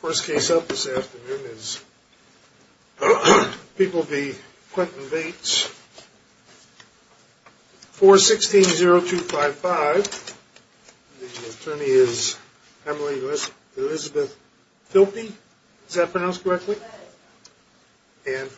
First case up this afternoon is People v. Quentin Bates, 416-0255. The attorney is Emily Elizabeth Filpi. Is that pronounced correctly? Thank you. And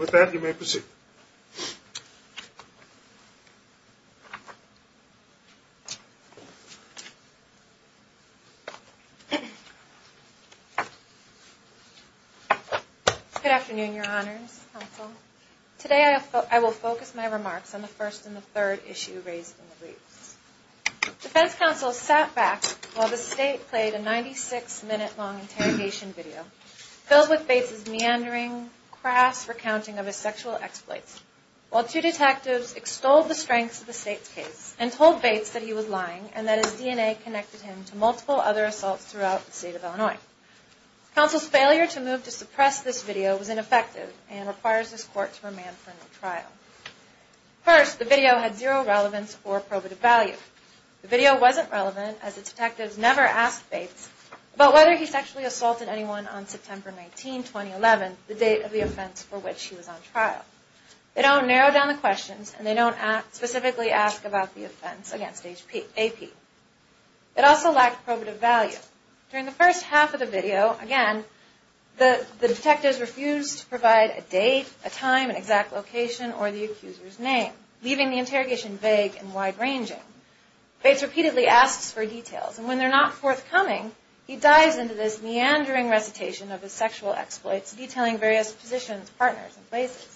with that, you may proceed. Good afternoon, your honors, counsel. Today I will focus my remarks on the first and the third issue raised in the briefs. Defense counsel sat back while the state played a 96-minute long interrogation video filled with Bates' meandering, crass recounting of his lying and that his DNA connected him to multiple other assaults throughout the state of Illinois. Counsel's failure to move to suppress this video was ineffective and requires this court to remand for no trial. First, the video had zero relevance or probative value. The video wasn't relevant as the detectives never asked Bates about whether he sexually assaulted anyone on September 19, 2011, the date of the offense for which he was on trial. They don't narrow down the questions and they don't specifically ask about the offense against AP. It also lacked probative value. During the first half of the video, again, the detectives refused to provide a date, a time, an exact location, or the accuser's name, leaving the interrogation vague and wide-ranging. Bates repeatedly asks for details and when they're not forthcoming, he dives into this meandering recitation of his sexual exploits, detailing various positions, partners, and places.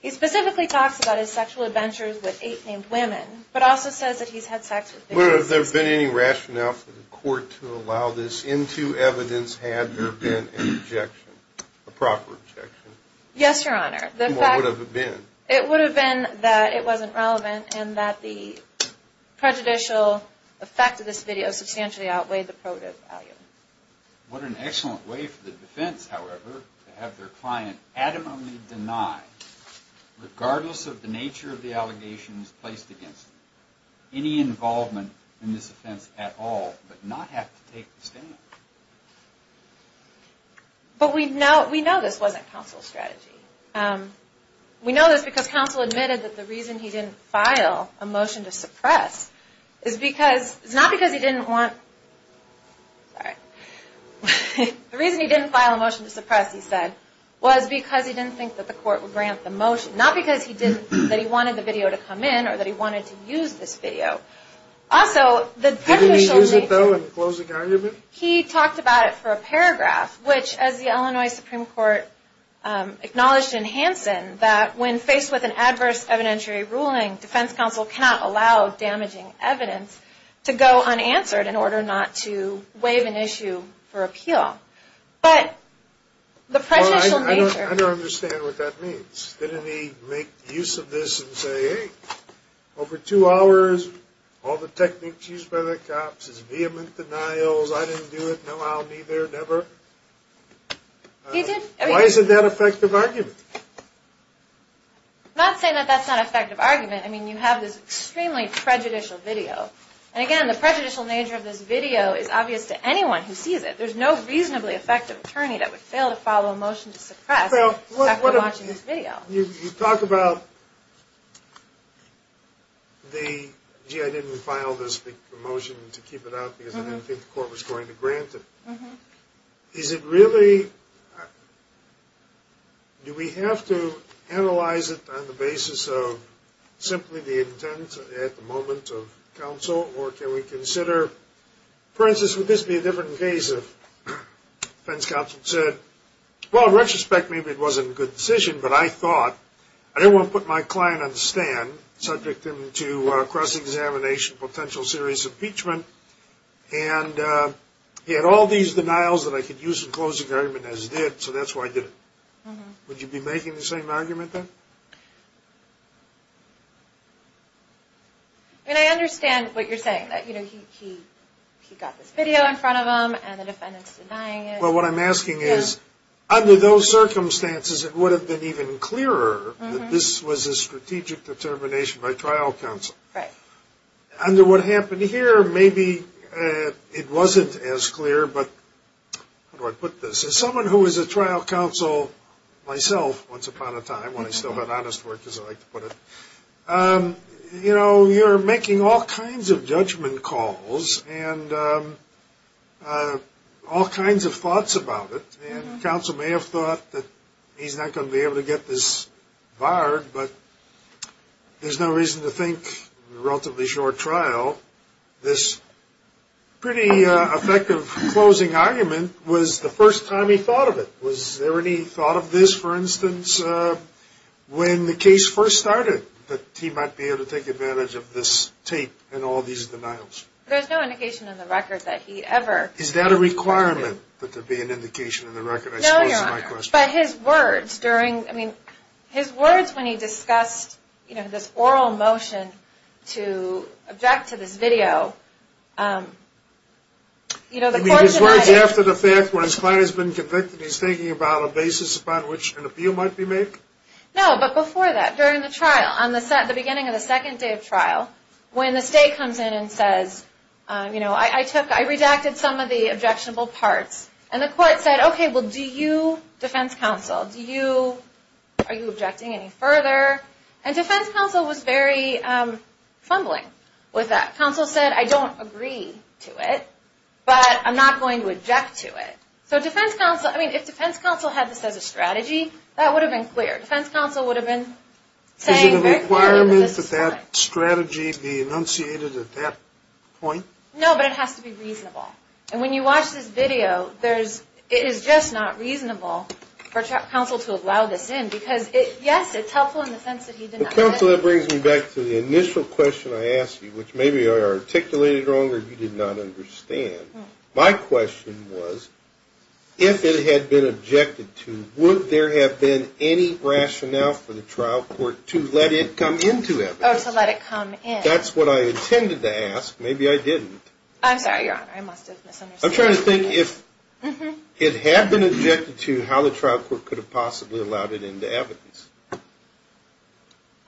He specifically talks about his sexual adventures with eight named women, but also says that he's had sex with Bates. But have there been any rationale for the court to allow this into evidence had there been an objection, a proper objection? Yes, Your Honor. What would have it been? It would have been that it wasn't relevant and that the prejudicial effect of this video substantially outweighed the probative value. What an excellent way for the defense, however, to have their client adamantly deny, regardless of the nature of the allegations placed against them, any involvement in this offense at all, but not have to take the stand. But we know this wasn't counsel's strategy. We know this because counsel admitted that the reason he didn't file a motion to suppress is not because he didn't think that the court would grant the motion, not because he didn't think that he wanted the video to come in or that he wanted to use this video. Also, the technical... Didn't he use it, though, in the closing argument? He talked about it for a paragraph, which, as the Illinois Supreme Court acknowledged in Hansen, that when faced with an adverse evidentiary ruling, defense counsel cannot allow damaging evidence to go unanswered in order not to waive an issue for appeal. But the prejudicial nature... I don't understand what that means. Didn't he make use of this and say, hey, over two hours, all the techniques used by the cops is vehement denials. I didn't do it. No, I'll be there. Never. He did. Why is it that effective argument? I'm not saying that that's not an effective argument. I mean, you have this extremely prejudicial video. And again, the prejudicial nature of this video is obvious to anyone who sees it. There's no reasonably effective attorney that would fail to file a motion to suppress after watching this video. You talk about the, gee, I didn't file this motion to keep it out because I didn't think the court was going to grant it. Is it really... Do we have to analyze it on the basis of simply the intent at the moment of counsel? Or can we consider... For instance, would this be a different case if defense counsel said, well, in retrospect, maybe it wasn't a good decision. But I thought, I didn't want to put my client on the stand subject to cross-examination, potential serious impeachment. And he had all these denials that I could use in closing argument as he did, so that's why I did it. Would you be making the same argument then? I mean, I understand what you're saying. He got this video in front of him, and the defendant's denying it. Well, what I'm asking is, under those circumstances, it would have been even clearer that this was a strategic determination by trial counsel. Right. Under what happened here, maybe it wasn't as clear, but... How do I put this? As someone who is a trial counsel myself, once upon a time, when I still had honest work, as I like to put it, you know, you're making all kinds of judgment calls and all kinds of thoughts about it. And counsel may have thought that he's not going to be able to get this barred, but there's no reason to think, in a relatively short trial, this pretty effective closing argument was the first time he thought of it. Was there any thought of this, for instance, when the case first started, that he might be able to take advantage of this tape and all these denials? There's no indication in the record that he ever... Is that a requirement, that there be an indication in the record, I suppose, is my question. No, Your Honor. But his words during, I mean, his words when he discussed, you know, this oral motion to object to this video... You mean his words after the fact, when his client has been convicted, he's thinking about a basis upon which an appeal might be made? No, but before that, during the trial, on the beginning of the second day of trial, when the state comes in and says, you know, I redacted some of the objectionable parts, and the court said, okay, well, do you, defense counsel, do you, are you objecting any further? And defense counsel was very fumbling with that. Counsel said, I don't agree to it, but I'm not going to object to it. So defense counsel, I mean, if defense counsel had this as a strategy, that would have been clear. Defense counsel would have been saying... Is it a requirement that that strategy be enunciated at that point? No, but it has to be reasonable. And when you watch this video, it is just not reasonable for counsel to allow this in, because, yes, it's helpful in the sense that he did not... Counsel, that brings me back to the initial question I asked you, which maybe I articulated wrong or you did not understand. My question was, if it had been objected to, would there have been any rationale for the trial court to let it come into evidence? Oh, to let it come in. That's what I intended to ask. Maybe I didn't. I'm sorry, Your Honor. I must have misunderstood. I'm trying to think if it had been objected to, how the trial court could have possibly allowed it into evidence.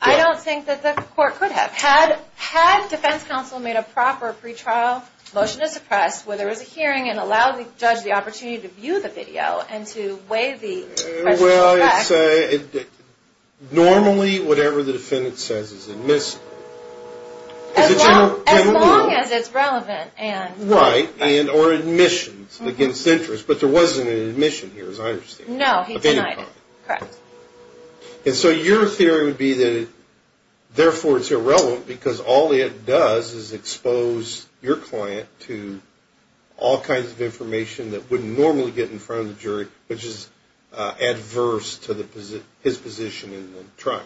I don't think that the court could have. Had defense counsel made a proper pre-trial motion to suppress where there was a hearing and allowed the judge the opportunity to view the video and to weigh the questions back... Well, normally whatever the defendant says is admissible. As long as it's relevant and... Right, and or admissions against interest. But there wasn't an admission here, as I understand. No, he denied it. Correct. And so your theory would be that therefore it's irrelevant because all it does is expose your client to all kinds of information that wouldn't normally get in front of the jury, which is adverse to his position in the trial.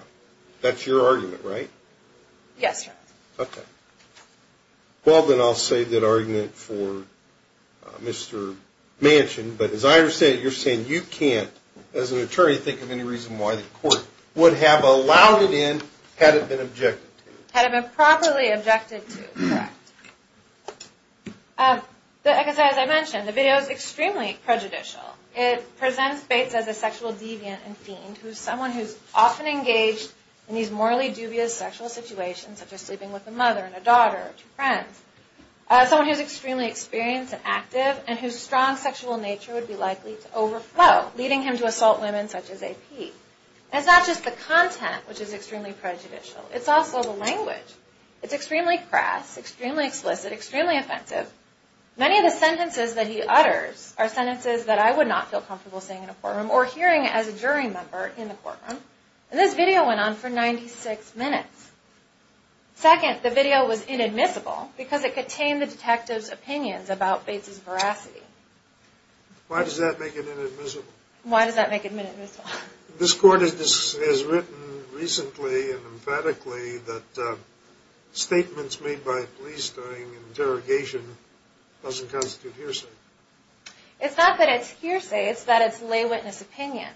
That's your argument, right? Yes, Your Honor. Okay. Well, then I'll save that argument for Mr. Manchin. But as I understand it, you're saying you can't, as an attorney, think of any reason why the court would have allowed it in had it been objected to. Had it been properly objected to, correct. Like I said, as I mentioned, the video is extremely prejudicial. It presents Bates as a sexual deviant and fiend who is someone who is often engaged in these morally dubious sexual situations such as sleeping with a mother and a daughter or two friends, someone who is extremely experienced and active and whose strong sexual nature would be likely to overflow, leading him to assault women such as AP. And it's not just the content which is extremely prejudicial. It's also the language. It's extremely crass, extremely explicit, extremely offensive. Many of the sentences that he utters are sentences that I would not feel comfortable saying in a courtroom or hearing as a jury member in a courtroom. And this video went on for 96 minutes. Second, the video was inadmissible because it contained the detective's opinions about Bates's veracity. Why does that make it inadmissible? Why does that make it inadmissible? This court has written recently and emphatically that statements made by police during interrogation doesn't constitute hearsay. It's not that it's hearsay. It's that it's lay witness opinion.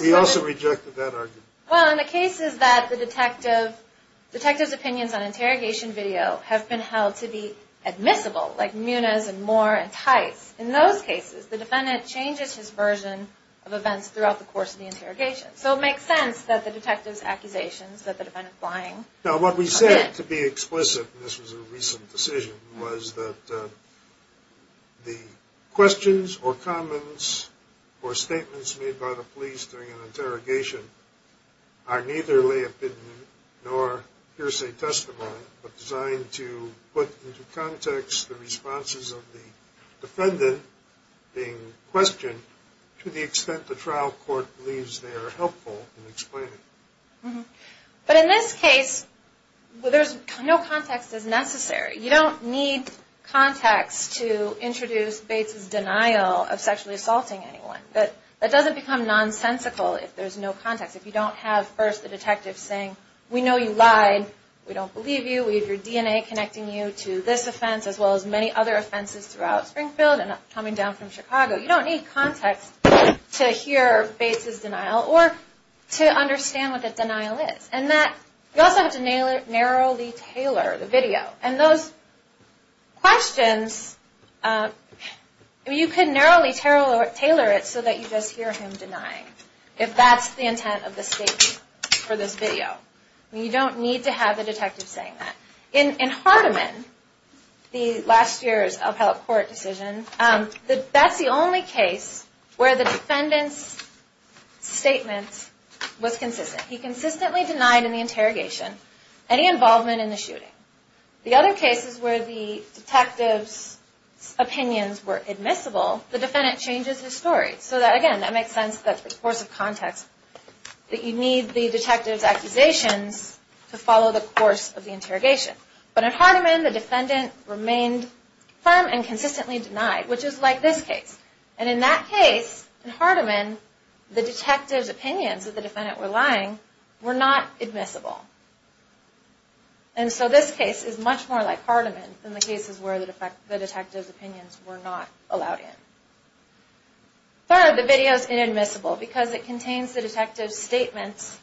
We also rejected that argument. Well, in the cases that the detective's opinions on interrogation video have been held to be admissible, like Muniz and Moore and Tice, in those cases the defendant changes his version of events throughout the course of the interrogation. So it makes sense that the detective's accusations that the defendant is lying. Now, what we said to be explicit, and this was a recent decision, was that the questions or comments or statements made by the police during an interrogation are neither lay opinion nor hearsay testimony but designed to put into context the responses of the defendant being questioned to the extent the trial court believes they are helpful in explaining. But in this case, no context is necessary. You don't need context to introduce Bates's denial of sexually assaulting anyone. That doesn't become nonsensical if there's no context. If you don't have first the detective saying, we know you lied, we don't believe you, we have your DNA connecting you to this offense as well as many other offenses throughout Springfield and coming down from Chicago, you don't need context to hear Bates's denial or to understand what the denial is. You also have to narrowly tailor the video. And those questions, you can narrowly tailor it so that you just hear him denying if that's the intent of the statement for this video. You don't need to have the detective saying that. In Hardeman, the last year's appellate court decision, that's the only case where the defendant's statement was consistent. He consistently denied in the interrogation any involvement in the shooting. The other cases where the detective's opinions were admissible, the defendant changes his story. So again, that makes sense that the course of context, that you need the detective's accusations to follow the course of the interrogation. But in Hardeman, the defendant remained firm and consistently denied, which is like this case. In that case, in Hardeman, the detective's opinions that the defendant were lying were not admissible. And so this case is much more like Hardeman than the cases where the detective's opinions were not allowed in. Third, the video is inadmissible because it contains the detective's statements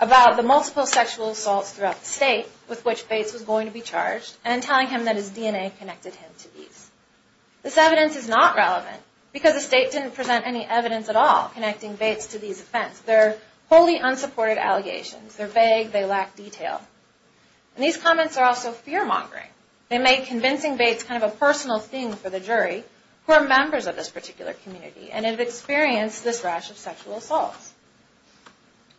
about the multiple sexual assaults throughout the state with which Bates was going to be charged, and telling him that his DNA connected him to these. This evidence is not relevant because the state didn't present any evidence at all connecting Bates to these offenses. They're wholly unsupported allegations. They're vague. They lack detail. And these comments are also fear-mongering. They make convincing Bates kind of a personal thing for the jury who are members of this particular community and have experienced this rash of sexual assaults.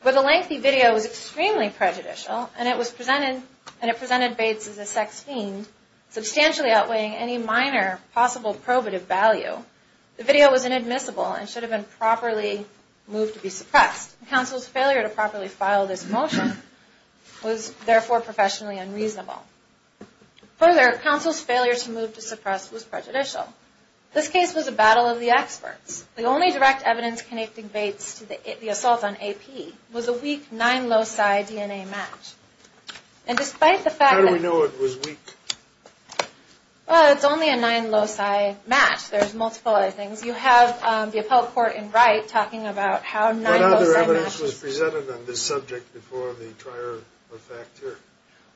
But the lengthy video was extremely prejudicial, and it presented Bates as a sex fiend, substantially outweighing any minor possible probative value. The video was inadmissible and should have been properly moved to be suppressed. The counsel's failure to properly file this motion was therefore professionally unreasonable. Further, counsel's failure to move to suppress was prejudicial. This case was a battle of the experts. The only direct evidence connecting Bates to the assault on A.P. was a weak nine-loci DNA match. And despite the fact that... How do we know it was weak? Well, it's only a nine-loci match. There's multiple other things. You have the appellate court in Wright talking about how nine-loci matches... What other evidence was presented on this subject before the trial of fact here?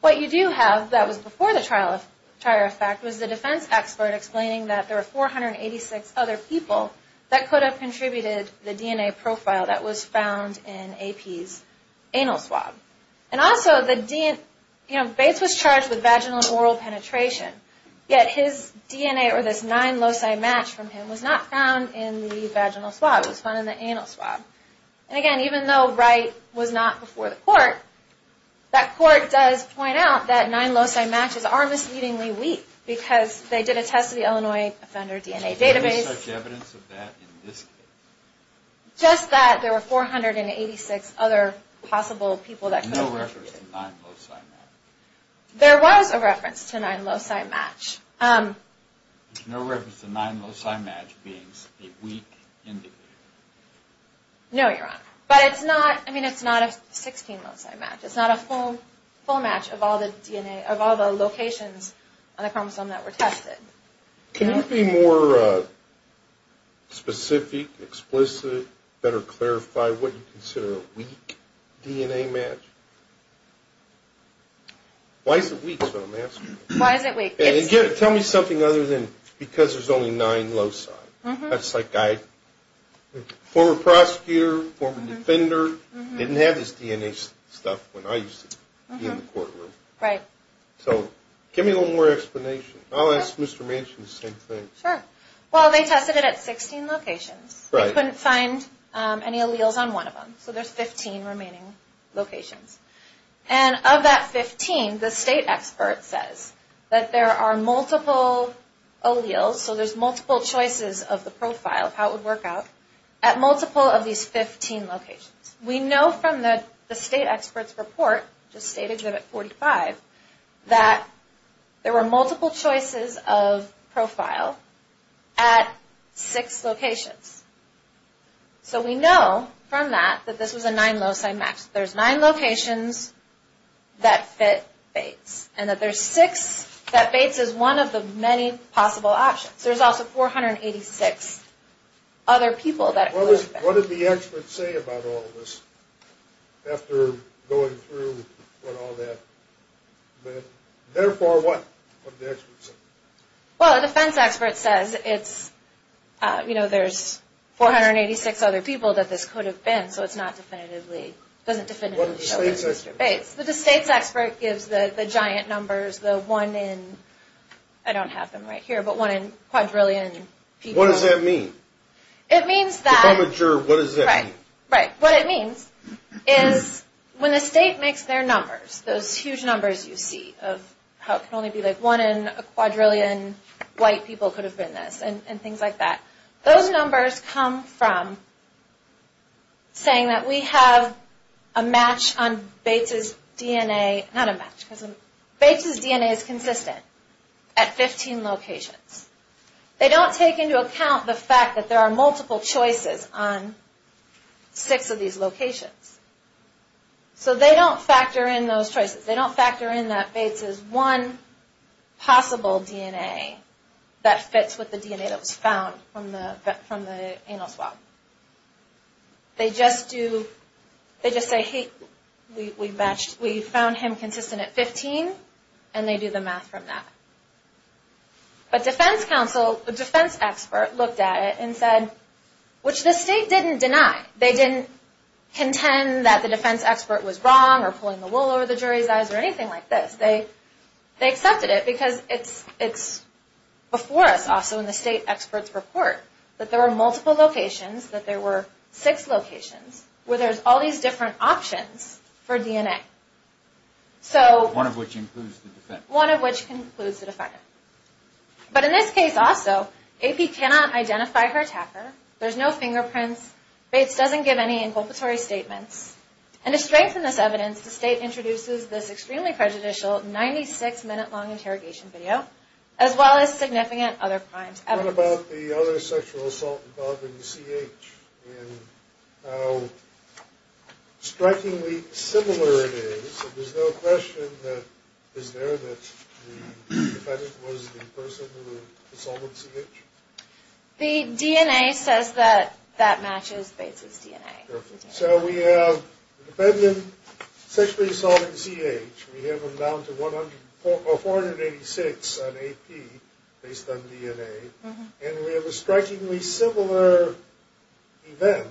What you do have that was before the trial of fact was the defense expert explaining that there were 486 other people that could have contributed the DNA profile that was found in A.P.'s anal swab. And also, Bates was charged with vaginal and oral penetration, yet his DNA, or this nine-loci match from him, was not found in the vaginal swab. It was found in the anal swab. And again, even though Wright was not before the court, that court does point out that nine-loci matches are misleadingly weak because they did a test of the Illinois offender DNA database. Is there any such evidence of that in this case? Just that there were 486 other possible people that could have... No reference to nine-loci matches. There was a reference to a nine-loci match. No reference to a nine-loci match being a weak indicator. No, Your Honor. But it's not a 16-loci match. It's not a full match of all the locations on the chromosome that were tested. Can you be more specific, explicit, better clarify what you consider a weak DNA match? Why is it weak, so I'm asking? Why is it weak? Tell me something other than because there's only nine-loci. That's like I, former prosecutor, former defender, didn't have this DNA stuff when I used to be in the courtroom. Right. So give me a little more explanation. I'll ask Mr. Manchin the same thing. Sure. Well, they tested it at 16 locations. Right. They couldn't find any alleles on one of them. So there's 15 remaining locations. And of that 15, the state expert says that there are multiple alleles, so there's multiple choices of the profile of how it would work out, at multiple of these 15 locations. We know from the state expert's report, just stated at 45, that there were multiple choices of profile at six locations. So we know from that that this was a nine-loci match. There's nine locations that fit Bates, and that Bates is one of the many possible options. There's also 486 other people that it could have been. What did the experts say about all this after going through what all that meant? Therefore, what did the experts say? Well, the defense expert says it's, you know, there's 486 other people that this could have been, so it's not definitively, doesn't definitively show that it's Mr. Bates. But the state's expert gives the giant numbers, the one in, I don't have them right here, but one in quadrillion people. What does that mean? It means that... If I'm not sure, what does that mean? Right, what it means is when the state makes their numbers, those huge numbers you see of how it can only be like one in a quadrillion white people could have been this, and things like that. Those numbers come from saying that we have a match on Bates' DNA, not a match, because Bates' DNA is consistent at 15 locations. They don't take into account the fact that there are multiple choices on six of these locations. So they don't factor in those choices. They don't factor in that Bates' one possible DNA that fits with the DNA that was found from the anal swab. They just do, they just say, hey, we found him consistent at 15, and they do the math from that. But defense counsel, the defense expert looked at it and said, which the state didn't deny. They didn't contend that the defense expert was wrong or pulling the wool over the jury's eyes or anything like this. They accepted it because it's before us also in the state expert's report that there were multiple locations, that there were six locations where there's all these different options for DNA. So... One of which includes the defense. One of which includes the defendant. But in this case also, AP cannot identify her attacker. There's no fingerprints. Bates doesn't give any inculpatory statements. And to strengthen this evidence, the state introduces this extremely prejudicial 96-minute-long interrogation video, as well as significant other crimes evidence. What about the other sexual assault involving CH and how strikingly similar it is So there's no question that is there that the defendant was the person who assaulted CH? The DNA says that that matches Bates' DNA. So we have the defendant sexually assaulting CH. We have them down to 486 on AP based on DNA. And we have a strikingly similar event,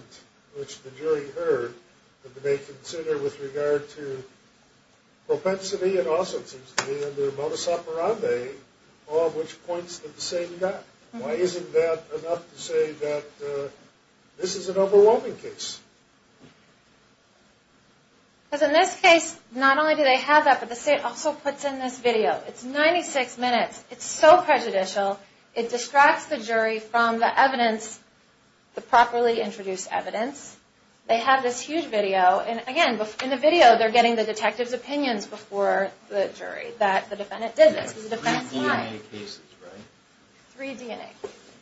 which the jury heard, that they consider with regard to propensity and also, it seems to me, under modus operandi, all of which points to the same guy. Why isn't that enough to say that this is an overwhelming case? Because in this case, not only do they have that, but the state also puts in this video. It's 96 minutes. It's so prejudicial. It distracts the jury from the evidence, the properly introduced evidence. They have this huge video, and again, in the video, they're getting the detective's opinions before the jury that the defendant did this. Three DNA cases, right? Three DNA cases.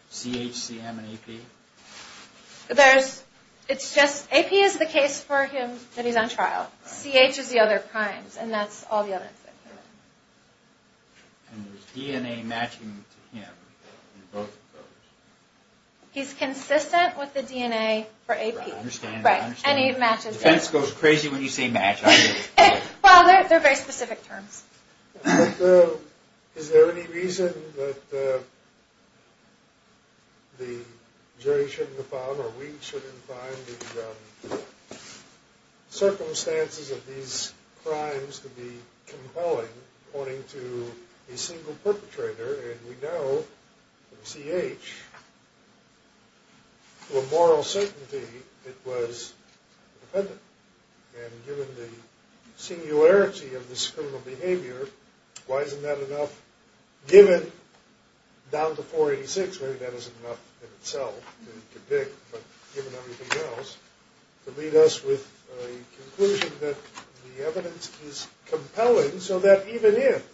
CH, CM, and AP? AP is the case for him that he's on trial. CH is the other crimes, and that's all the evidence that came in. And there's DNA matching to him in both of those? He's consistent with the DNA for AP. Right, I understand. And it matches. Defense goes crazy when you say match. Well, they're very specific terms. Is there any reason that the jury shouldn't have found or we shouldn't have found the circumstances of these crimes to be compelling according to a single perpetrator? And we know in CH, for moral certainty, it was the defendant. And given the singularity of this criminal behavior, why isn't that enough given down to 486? Maybe that isn't enough in itself to convict, but given everything else, to lead us with a conclusion that the evidence is compelling so that even if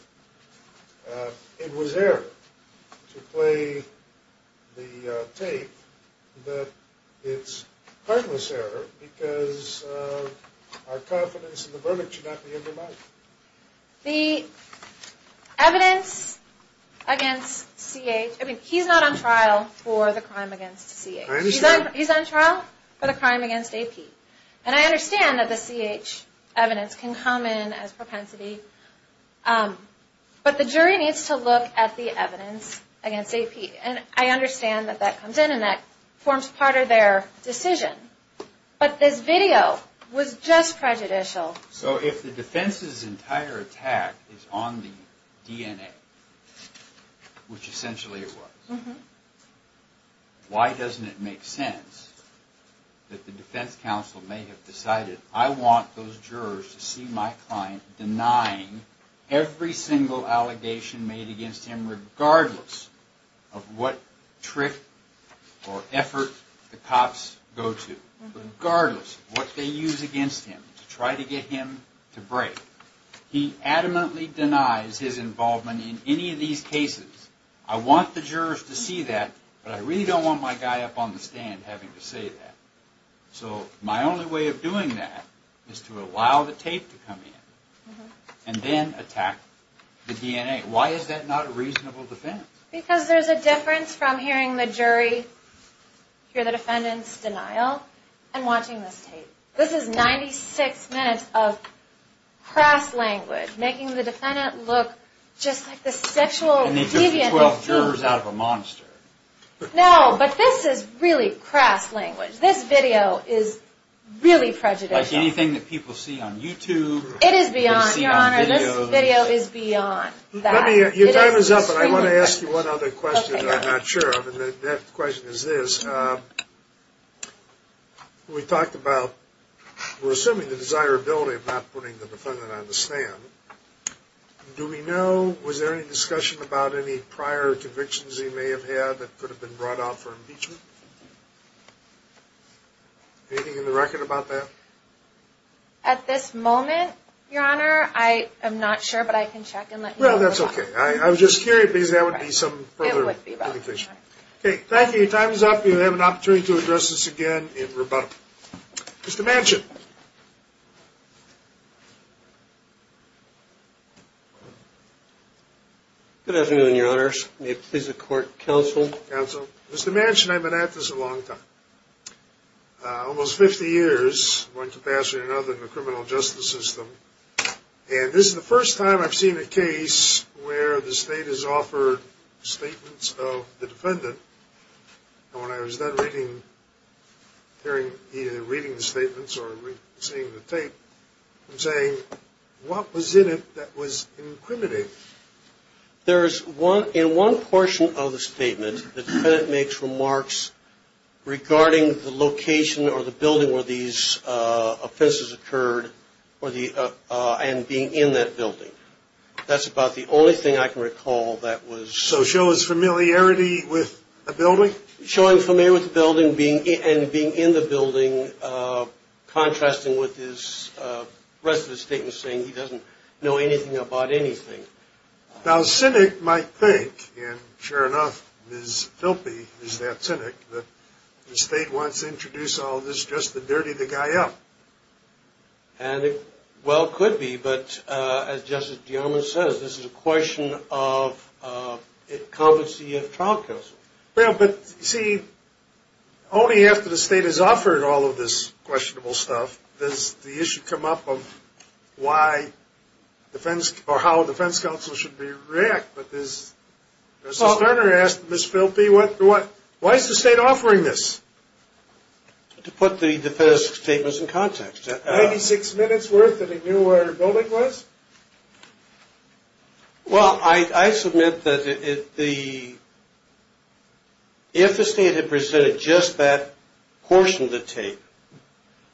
it was error to play the tape, that it's heartless error because our confidence in the verdict should not be undermined. The evidence against CH, I mean, he's not on trial for the crime against CH. I understand. He's on trial for the crime against AP. And I understand that the CH evidence can come in as propensity, but the jury needs to look at the evidence against AP. And I understand that that comes in and that forms part of their decision. But this video was just prejudicial. So if the defense's entire attack is on the DNA, which essentially it was, why doesn't it make sense that the defense counsel may have decided, I want those jurors to see my client denying every single allegation made against him regardless of what trick or effort the cops go to, regardless of what they use against him to try to get him to break. He adamantly denies his involvement in any of these cases. I want the jurors to see that, but I really don't want my guy up on the stand having to say that. So my only way of doing that is to allow the tape to come in and then attack the DNA. Why is that not a reasonable defense? Because there's a difference from hearing the jury hear the defendant's denial and watching this tape. This is 96 minutes of crass language, making the defendant look just like the sexual deviant they think. And they took the 12 jurors out of a monster. No, but this is really crass language. This video is really prejudicial. Like anything that people see on YouTube. It is beyond, Your Honor. This video is beyond that. Your time is up, but I want to ask you one other question that I'm not sure of. And that question is this. We talked about, we're assuming the desirability of not putting the defendant on the stand. Do we know, was there any discussion about any prior convictions he may have had that could have been brought out for impeachment? Anything in the record about that? At this moment, Your Honor, I am not sure, but I can check and let you know. Well, that's okay. I was just curious because that would be some further indication. Okay, thank you. Your time is up. You have an opportunity to address this again in rebuttal. Mr. Manchin. Good afternoon, Your Honors. May it please the court, counsel. Counsel. Mr. Manchin, I've been at this a long time. Almost 50 years, one capacity or another in the criminal justice system. And this is the first time I've seen a case where the state has offered statements of the defendant. And when I was done reading the statements or seeing the tape, I'm saying, what was in it that was incriminating? In one portion of the statement, the defendant makes remarks regarding the location or the building where these offenses occurred and being in that building. That's about the only thing I can recall that was. So show us familiarity with the building? Showing familiarity with the building and being in the building, contrasting with the rest of the statement saying he doesn't know anything about anything. Now a cynic might think, and sure enough, Ms. Filpi is that cynic, that the state wants to introduce all this just to dirty the guy up. And it well could be. But as Justice DeAlma says, this is a question of competency of trial counsel. But, you see, only after the state has offered all of this questionable stuff does the issue come up of why defense or how a defense counsel should react. Justice Garner asked Ms. Filpi, why is the state offering this? To put the defense statements in context. 96 minutes worth that he knew where the building was? Well, I submit that if the state had presented just that portion of the tape,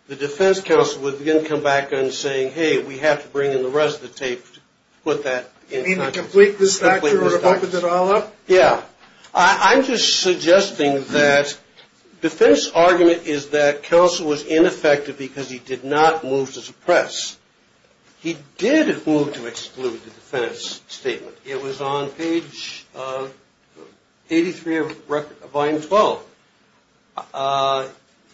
the defense counsel would then come back and say, hey, we have to bring in the rest of the tape to put that in context. You mean to complete this factor or to open it all up? Yeah. I'm just suggesting that defense argument is that counsel was ineffective because he did not move to suppress. He did move to exclude the defense statement. It was on page 83 of Volume 12.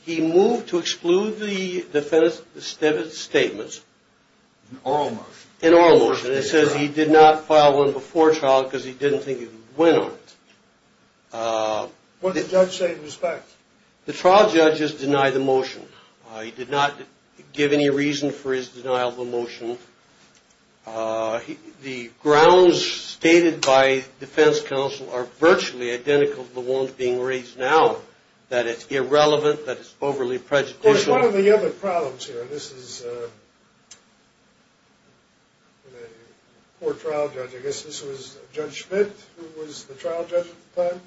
He moved to exclude the defense statements. In our motion. In our motion. It says he did not file one before trial because he didn't think he could win on it. What did the judge say in respect? The trial judge has denied the motion. He did not give any reason for his denial of the motion. The grounds stated by defense counsel are virtually identical to the ones being raised now, that it's irrelevant, that it's overly prejudicial. There's one of the other problems here. This is a poor trial judge. I guess this was Judge Schmidt who was the trial judge at the time?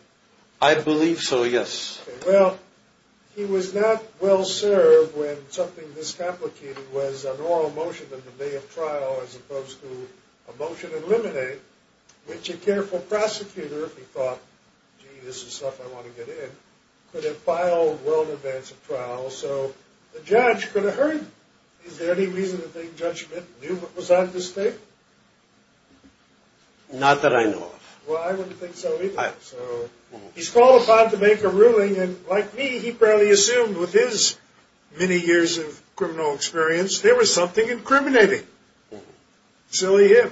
I believe so, yes. Well, he was not well served when something this complicated was an oral motion in the day of trial as opposed to a motion to eliminate which a careful prosecutor, if he thought, gee, this is stuff I want to get in, could have filed well in advance of trial, so the judge could have heard. Is there any reason to think Judge Schmidt knew what was on the statement? Not that I know of. Well, I wouldn't think so either. So he's called upon to make a ruling, and like me, he barely assumed with his many years of criminal experience, there was something incriminating. Silly him.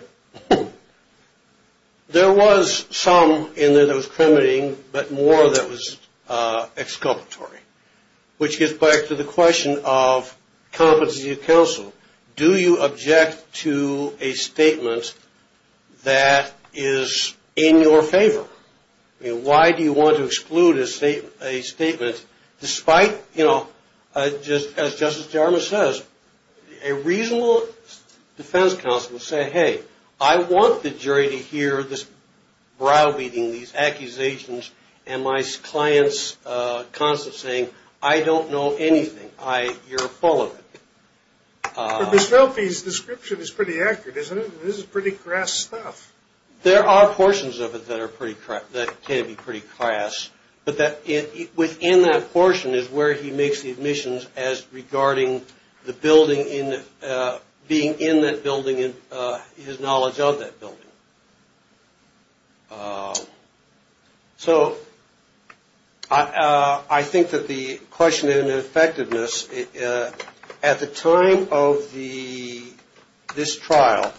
There was some in there that was incriminating, but more that was exculpatory, which gets back to the question of competency of counsel. Do you object to a statement that is in your favor? Why do you want to exclude a statement despite, you know, as Justice Jarmus says, a reasonable defense counsel saying, hey, I want the jury to hear this browbeating, these accusations, and my client's constant saying, I don't know anything. You're full of it. But Ms. Velpe's description is pretty accurate, isn't it? This is pretty crass stuff. There are portions of it that can be pretty crass, but within that portion is where he makes the admissions as regarding the building, being in that building and his knowledge of that building. So I think that the question in effectiveness, at the time of this trial,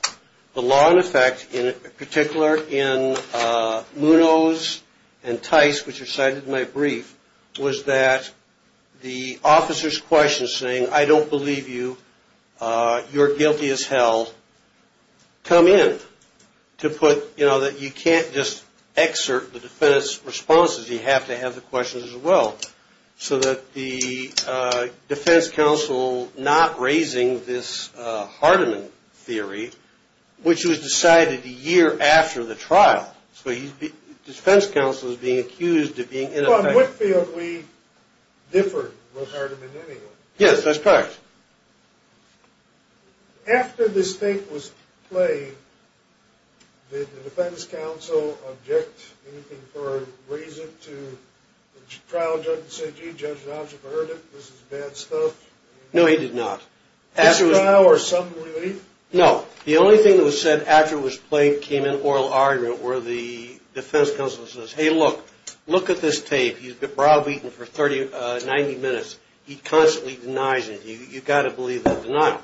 the law in effect in particular in Munoz and Tice, which are cited in my brief, was that the officer's question saying, I don't believe you, you're guilty as held, come in to put, you know, that you can't just excerpt the defense responses. You have to have the questions as well. So that the defense counsel not raising this Hardiman theory, which was decided a year after the trial. So the defense counsel is being accused of being ineffective. Well, in Whitfield, we differed with Hardiman anyway. Yes, that's correct. After this tape was played, did the defense counsel object, raise it to the trial judge and say, gee, judge, the officer heard it. This is bad stuff. No, he did not. Is this denial or some relief? No. The only thing that was said after it was played, came in oral argument, where the defense counsel says, hey, look, look at this tape. He's been browbeaten for 90 minutes. He constantly denies it. You've got to believe the denial.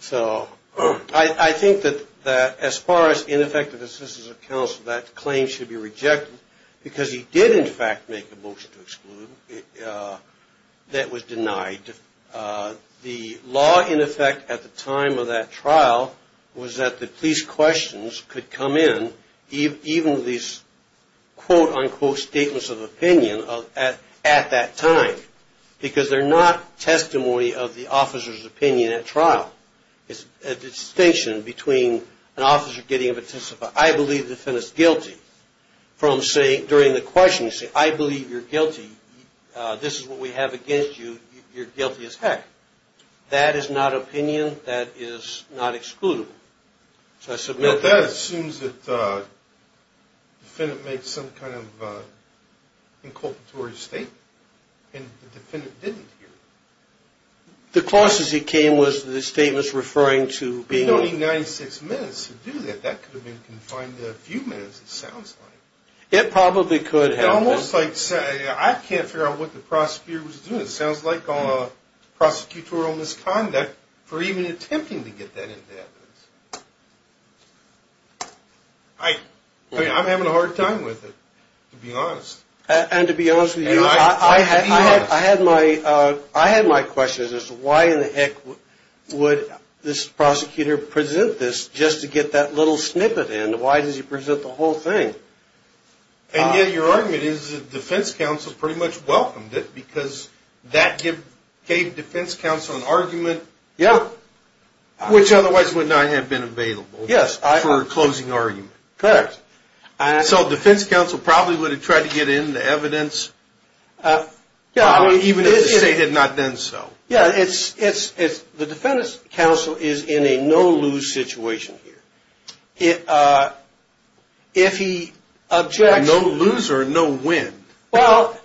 So I think that as far as ineffective assistance of counsel, that claim should be rejected. Because he did, in fact, make a motion to exclude that was denied. The law, in effect, at the time of that trial, was that the police questions could come in, even these quote, unquote, statements of opinion at that time. Because they're not testimony of the officer's opinion at trial. It's a distinction between an officer getting a participant, I believe the defendant's guilty, from saying during the question, you say, I believe you're guilty. This is what we have against you. You're guilty as heck. That is not opinion. That is not excludable. So I submit that. That assumes that the defendant made some kind of inculpatory statement. And the defendant didn't hear it. The clause as it came was that the statement was referring to being on. You don't need 96 minutes to do that. That could have been confined to a few minutes, it sounds like. It probably could have. It's almost like saying, I can't figure out what the prosecutor was doing. It sounds like prosecutorial misconduct for even attempting to get that in evidence. I'm having a hard time with it, to be honest. And to be honest with you, I had my questions as to why in the heck would this prosecutor present this just to get that little snippet in? Why does he present the whole thing? And yet your argument is that the defense counsel pretty much welcomed it because that gave defense counsel an argument which otherwise would not have been available for a closing argument. Correct. So defense counsel probably would have tried to get it into evidence even if the state had not done so. Yeah, the defense counsel is in a no-lose situation here. No-lose or no-win? Well,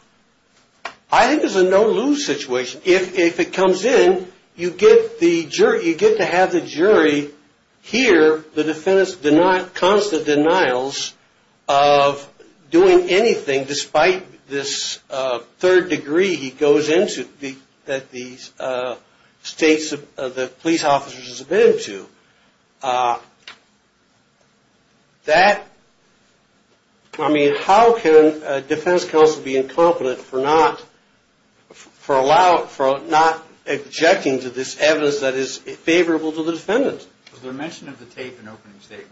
I think it's a no-lose situation. If it comes in, you get to have the jury hear the defendant's constant denials of doing anything despite this third degree he goes into that the police officers have been to. That, I mean, how can a defense counsel be incompetent for not ejecting to this evidence that is favorable to the defendant? Was there mention of the tape in the opening statement?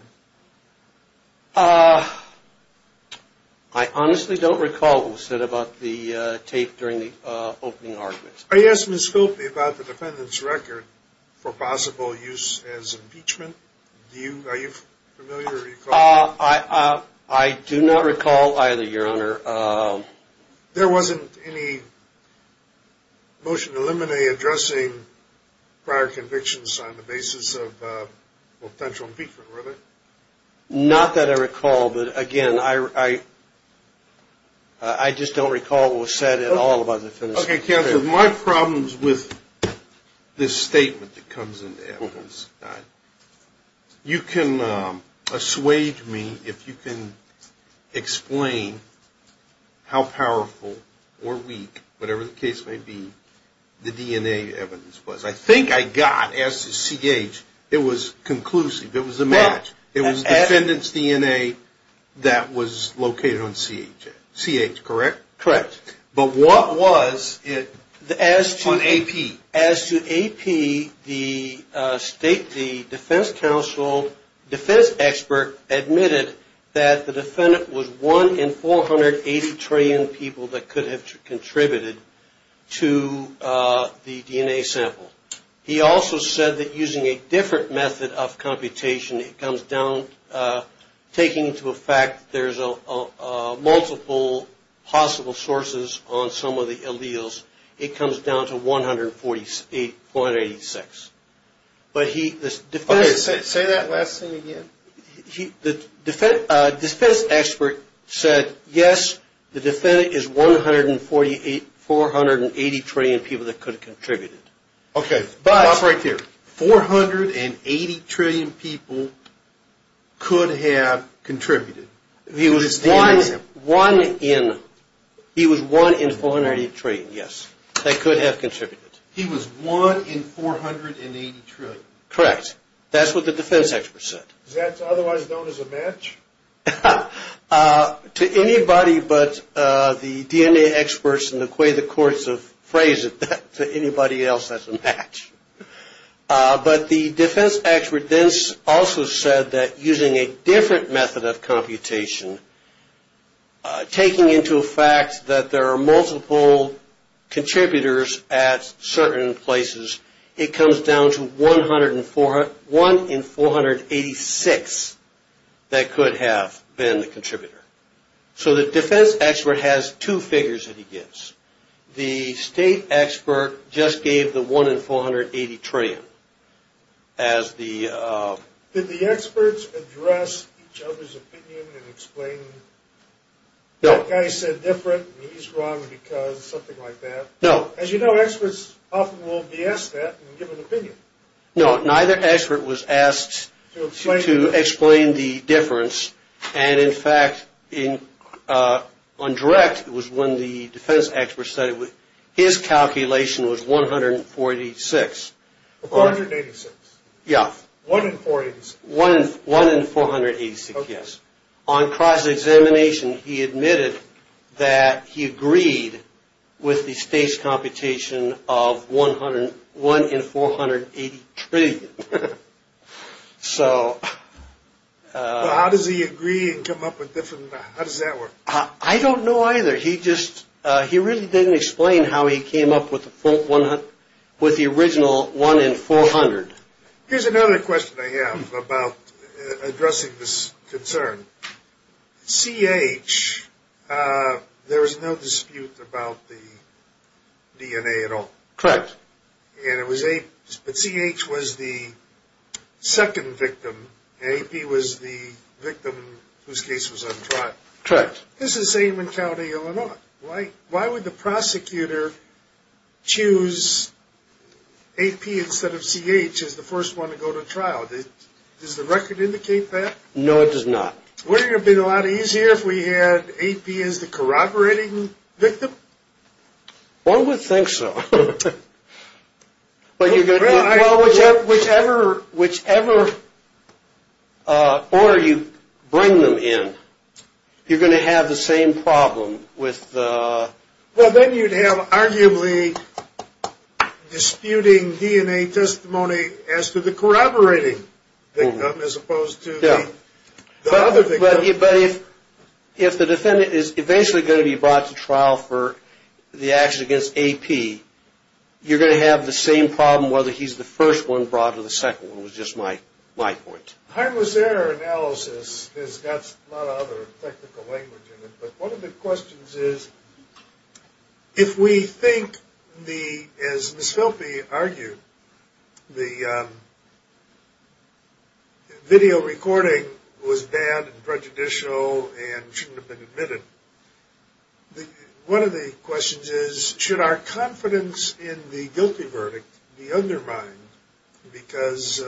I honestly don't recall what was said about the tape during the opening argument. I asked Ms. Sculpey about the defendant's record for possible use as impeachment. Are you familiar? I do not recall either, Your Honor. There wasn't any motion to eliminate addressing prior convictions on the basis of potential impeachment, was there? Not that I recall, but again, I just don't recall what was said at all about the defendant's record. Mr. Counsel, my problems with this statement that comes into evidence, you can assuage me if you can explain how powerful or weak, whatever the case may be, the DNA evidence was. I think I got, as to CH, it was conclusive. It was a match. It was the defendant's DNA that was located on CH, correct? Correct. But what was it on AP? As to AP, the defense expert admitted that the defendant was one in 480 trillion people that could have contributed to the DNA sample. He also said that using a different method of computation, it comes down, taking into effect, there's multiple possible sources on some of the alleles. It comes down to 148, 486. Say that last thing again. The defense expert said, yes, the defendant is 148, 480 trillion people that could have contributed. Okay, stop right there. 480 trillion people could have contributed. He was 1 in 480 trillion, yes, that could have contributed. He was 1 in 480 trillion. Correct. That's what the defense expert said. Is that otherwise known as a match? To anybody but the DNA experts in the Quay, the courts have phrased it that to anybody else that's a match. But the defense expert then also said that using a different method of computation, taking into effect that there are multiple contributors at certain places, it comes down to 1 in 486 that could have been the contributor. So the defense expert has two figures that he gives. The state expert just gave the 1 in 480 trillion as the... Did the experts address each other's opinion and explain that guy said different and he's wrong because something like that? No. As you know, experts often will be asked that and give an opinion. No, neither expert was asked to explain the difference and, in fact, on direct, it was when the defense expert said his calculation was 146. 486. Yeah. 1 in 486. 1 in 486, yes. On cross-examination, he admitted that he agreed with the state's computation of 1 in 480 trillion. So... How does he agree and come up with different? How does that work? I don't know either. He just, he really didn't explain how he came up with the original 1 in 400. Here's another question I have about addressing this concern. C.H., there was no dispute about the DNA at all. Correct. And it was A... But C.H. was the second victim. A.P. was the victim whose case was untried. Correct. This is Seidman County, Illinois. Why would the prosecutor choose A.P. instead of C.H. as the first one to go to trial? Does the record indicate that? No, it does not. Wouldn't it have been a lot easier if we had A.P. as the corroborating victim? One would think so. Whichever order you bring them in, you're going to have the same problem with... Well, then you'd have arguably disputing DNA testimony as to the corroborating victim as opposed to the other victim. But if the defendant is eventually going to be brought to trial for the action against A.P., you're going to have the same problem whether he's the first one brought or the second one was just my point. Harmless error analysis has got a lot of other technical language in it, but one of the questions is if we think, as Ms. Filpe argued, the video recording was bad and prejudicial and shouldn't have been admitted, one of the questions is should our confidence in the guilty verdict be undermined because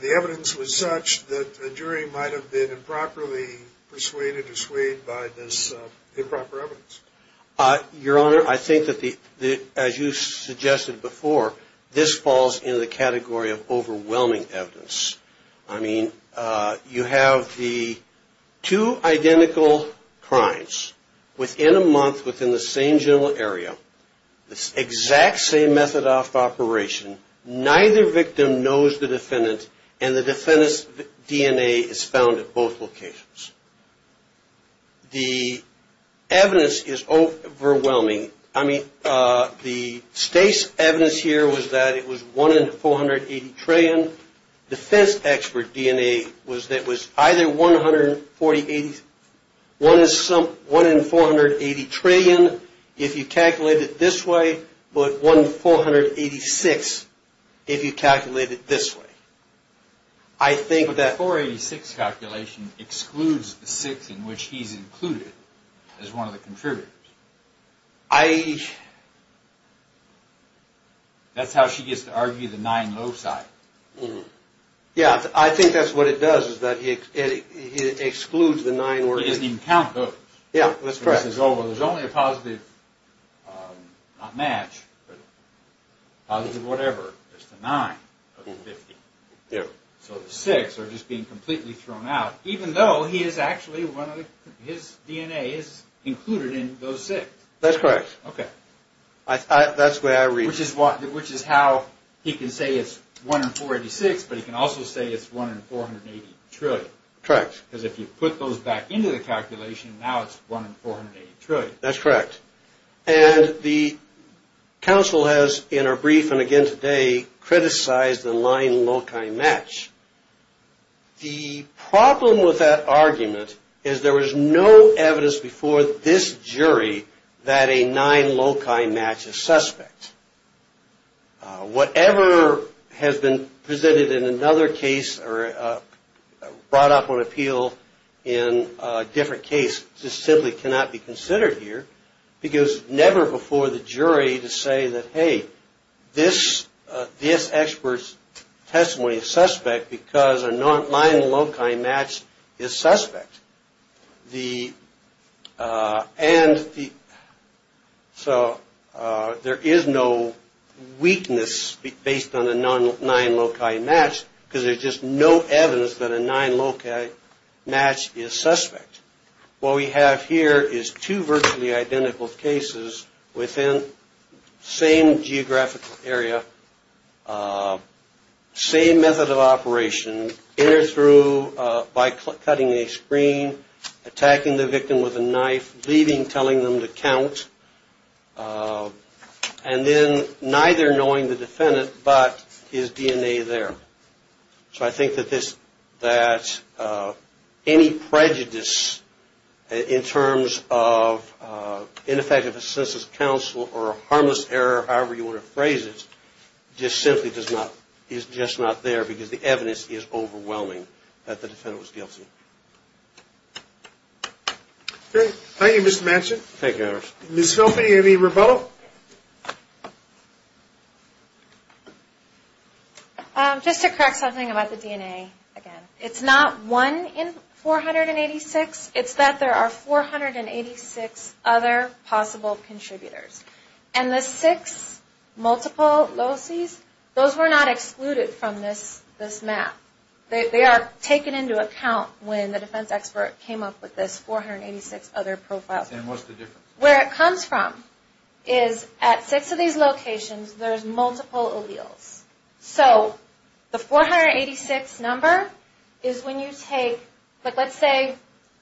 the evidence was such that the jury might have been improperly persuaded or swayed by this improper evidence? Your Honor, I think that, as you suggested before, this falls in the category of overwhelming evidence. I mean, you have the two identical crimes within a month within the same general area, the exact same method of operation, neither victim knows the defendant, and the defendant's DNA is found at both locations. The evidence is overwhelming. I mean, the state's evidence here was that it was 1 in 480 trillion. Defense expert DNA was that it was either 1 in 480 trillion. 1 in 480 trillion if you calculate it this way, but 1 in 486 if you calculate it this way. I think that 486 calculation excludes the 6 in which he's included as one of the contributors. That's how she gets to argue the 9 low side. Yeah, I think that's what it does is that it excludes the 9. He doesn't even count those. Yeah, that's correct. He says, oh, well, there's only a positive, not match, but positive whatever. There's the 9 of the 50. Yeah. So the 6 are just being completely thrown out, even though he is actually, one of his DNA is included in those 6. That's correct. Okay. That's the way I read it. Which is how he can say it's 1 in 486, but he can also say it's 1 in 480 trillion. Correct. Because if you put those back into the calculation, now it's 1 in 480 trillion. That's correct. And the counsel has, in her brief and again today, criticized the 9 loci match. The problem with that argument is there was no evidence before this jury that a 9 loci match is suspect. Whatever has been presented in another case or brought up on appeal in a different case just simply cannot be considered here. Because never before the jury to say that, hey, this expert's testimony is suspect because a 9 loci match is suspect. And so there is no weakness based on a 9 loci match because there's just no evidence that a 9 loci match is suspect. What we have here is two virtually identical cases within the same geographical area, same method of operation, in or through by cutting a screen, attacking the victim with a knife, leaving, telling them to count, and then neither knowing the defendant but his DNA there. So I think that this, that any prejudice in terms of ineffective assistance of counsel or a harmless error, however you want to phrase it, just simply does not, is just not there because the evidence is overwhelming that the defendant was guilty. Thank you, Mr. Manchin. Thank you, Anders. Ms. Philby, any rebuttal? I'd like to correct something about the DNA again. It's not one in 486. It's that there are 486 other possible contributors. And the six multiple loci, those were not excluded from this map. They are taken into account when the defense expert came up with this 486 other profiles. And what's the difference? Where it comes from is at six of these locations, there's multiple alleles. So the 486 number is when you take, like let's say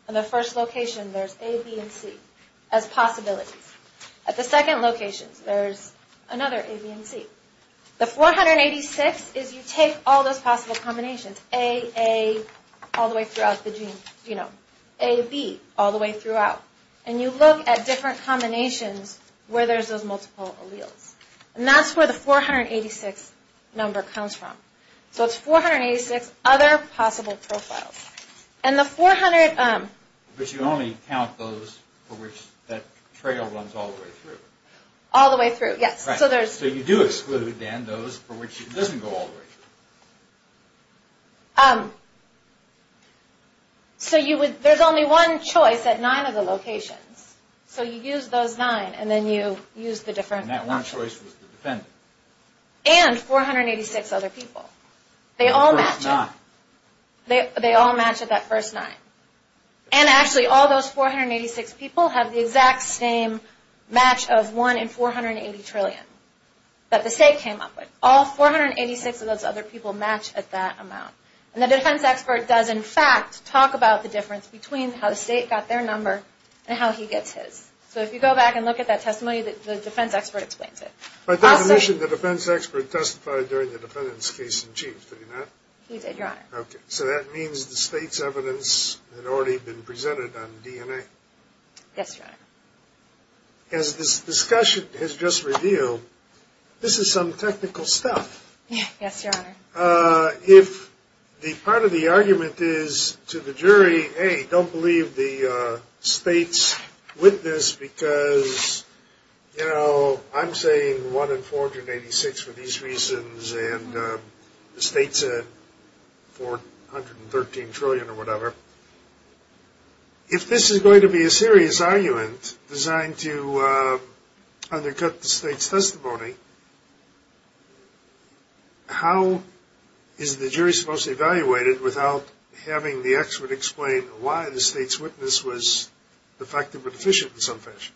on the first location, there's A, B, and C as possibilities. At the second location, there's another A, B, and C. The 486 is you take all those possible combinations, A, A, all the way throughout the gene genome. A, B, all the way throughout. And you look at different combinations where there's those multiple alleles. And that's where the 486 number comes from. So it's 486 other possible profiles. And the 400... But you only count those for which that trail runs all the way through. All the way through, yes. So you do exclude, then, those for which it doesn't go all the way through. So there's only one choice at nine of the locations. So you use those nine, and then you use the different... And that one choice was the defendant. And 486 other people. They all match up. The first nine. They all match at that first nine. And actually, all those 486 people have the exact same match of 1 in 480 trillion that the state came up with. All 486 of those other people match at that amount. And the defense expert does, in fact, talk about the difference between how the state got their number and how he gets his. So if you go back and look at that testimony, the defense expert explains it. But doesn't the defense expert testify during the defendant's case in chief? Did he not? He did, Your Honor. Okay. So that means the state's evidence had already been presented on DNA. Yes, Your Honor. As this discussion has just revealed, this is some technical stuff. Yes, Your Honor. If the part of the argument is to the jury, hey, don't believe the state's witness because, you know, I'm saying 1 in 486 for these reasons and the state said 413 trillion or whatever. If this is going to be a serious argument designed to undercut the state's testimony, how is the jury supposed to evaluate it without having the expert explain why the state's witness was defective or deficient in some fashion?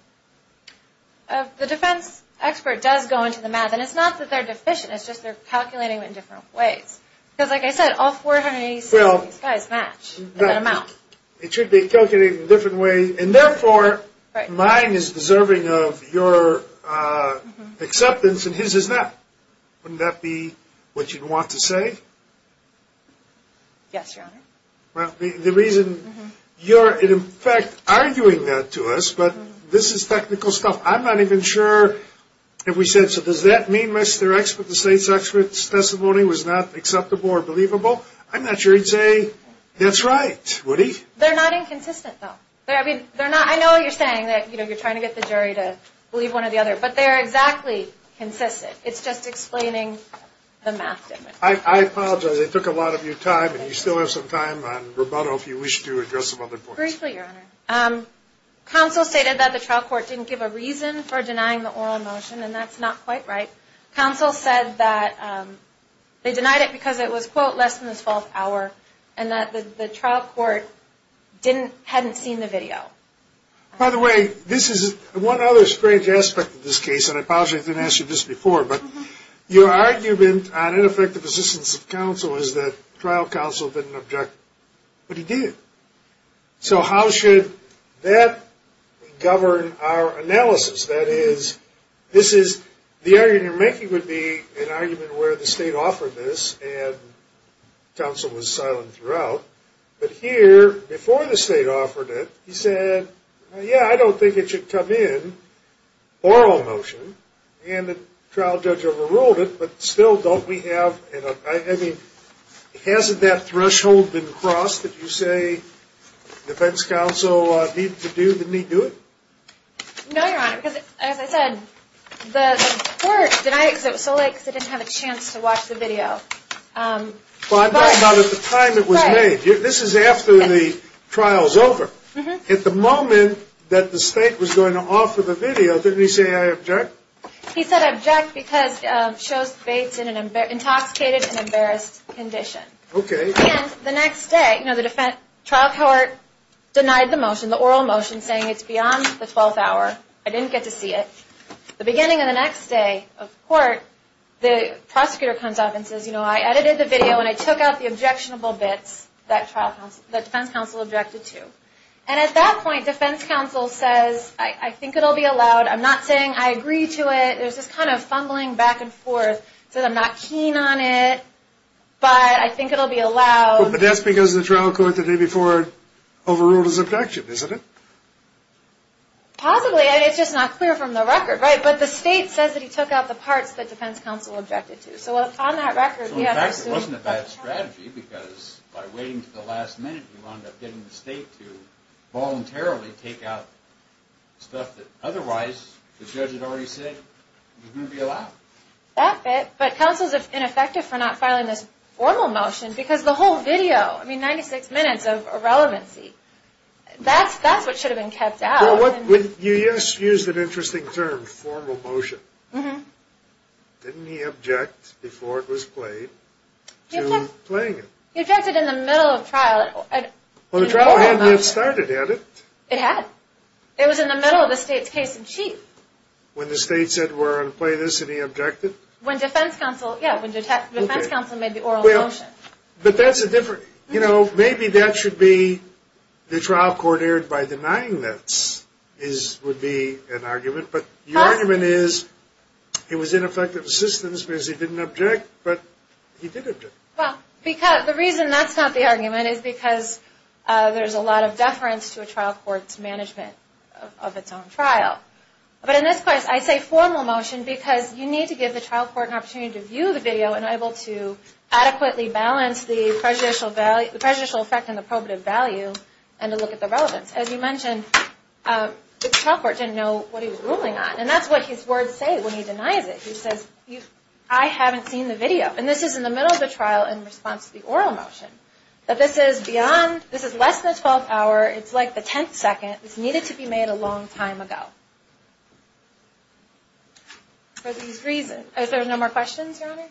The defense expert does go into the math. And it's not that they're deficient. It's just they're calculating it in different ways. Because, like I said, all 486 of these guys match at that amount. It should be calculated in a different way. And, therefore, mine is deserving of your acceptance and his is not. Wouldn't that be what you'd want to say? Yes, Your Honor. Well, the reason you're, in effect, arguing that to us, but this is technical stuff. I'm not even sure if we said, so does that mean, Mr. Expert, the state's expert's testimony was not acceptable or believable? I'm not sure he'd say that's right, would he? They're not inconsistent, though. I know you're saying that you're trying to get the jury to believe one or the other, but they're exactly consistent. It's just explaining the math. I apologize. It took a lot of your time, and you still have some time on rebuttal if you wish to address some other points. Briefly, Your Honor. Counsel stated that the trial court didn't give a reason for denying the oral motion, and that's not quite right. Counsel said that they denied it because it was, quote, less than the 12th hour, and that the trial court hadn't seen the video. By the way, this is one other strange aspect of this case, and I apologize I didn't ask you this before, but your argument on ineffective assistance of counsel is that trial counsel didn't object, but he did. The argument you're making would be an argument where the state offered this, and counsel was silent throughout, but here, before the state offered it, he said, yeah, I don't think it should come in, oral motion, and the trial judge overruled it, but still, don't we have, I mean, hasn't that threshold been crossed that you say defense counsel need to do it? No, Your Honor, because, as I said, the court denied it because it was so late because they didn't have a chance to watch the video. Well, I'm talking about at the time it was made. This is after the trial's over. At the moment that the state was going to offer the video, didn't he say, I object? He said, I object because it shows Bates in an intoxicated and embarrassed condition. Okay. And the next day, the trial court denied the motion, the oral motion, saying it's beyond the 12th hour. I didn't get to see it. The beginning of the next day of court, the prosecutor comes up and says, you know, I edited the video and I took out the objectionable bits that defense counsel objected to, and at that point, defense counsel says, I think it'll be allowed. I'm not saying I agree to it. There's this kind of fumbling back and forth. He says, I'm not keen on it, but I think it'll be allowed. But that's because the trial court the day before overruled his objection, isn't it? Possibly. It's just not clear from the record, right? But the state says that he took out the parts that defense counsel objected to. So on that record, we have to assume. So, in fact, it wasn't a bad strategy because by waiting until the last minute, you wound up getting the state to voluntarily take out stuff that otherwise the judge had already said was going to be allowed. That bit. But counsel's ineffective for not filing this formal motion because the whole video, I mean, 96 minutes of irrelevancy, that's what should have been kept out. You just used an interesting term, formal motion. Didn't he object before it was played to playing it? He objected in the middle of trial. Well, the trial hadn't yet started, had it? It had. It was in the middle of the state's case in chief. When the state said we're going to play this and he objected? When defense counsel, yeah, when defense counsel made the oral motion. But that's a different, you know, maybe that should be the trial court erred by denying this would be an argument. But the argument is it was ineffective assistance because he didn't object, but he did object. Well, the reason that's not the argument is because there's a lot of deference to a trial court's management of its own trial. But in this case, I say formal motion because you need to give the trial court an opportunity to view the video and able to adequately balance the prejudicial effect and the probative value and to look at the relevance. As you mentioned, the trial court didn't know what he was ruling on, and that's what his words say when he denies it. He says, I haven't seen the video. And this is in the middle of the trial in response to the oral motion. That this is beyond, this is less than a 12-hour. It's like the 10th second. This needed to be made a long time ago. For these reasons, is there no more questions, Your Honor?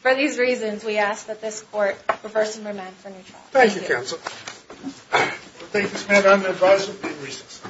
For these reasons, we ask that this court reverse and remand for new trial. Thank you, counsel. Thank you, Samantha. I'm going to advise there have been reasons.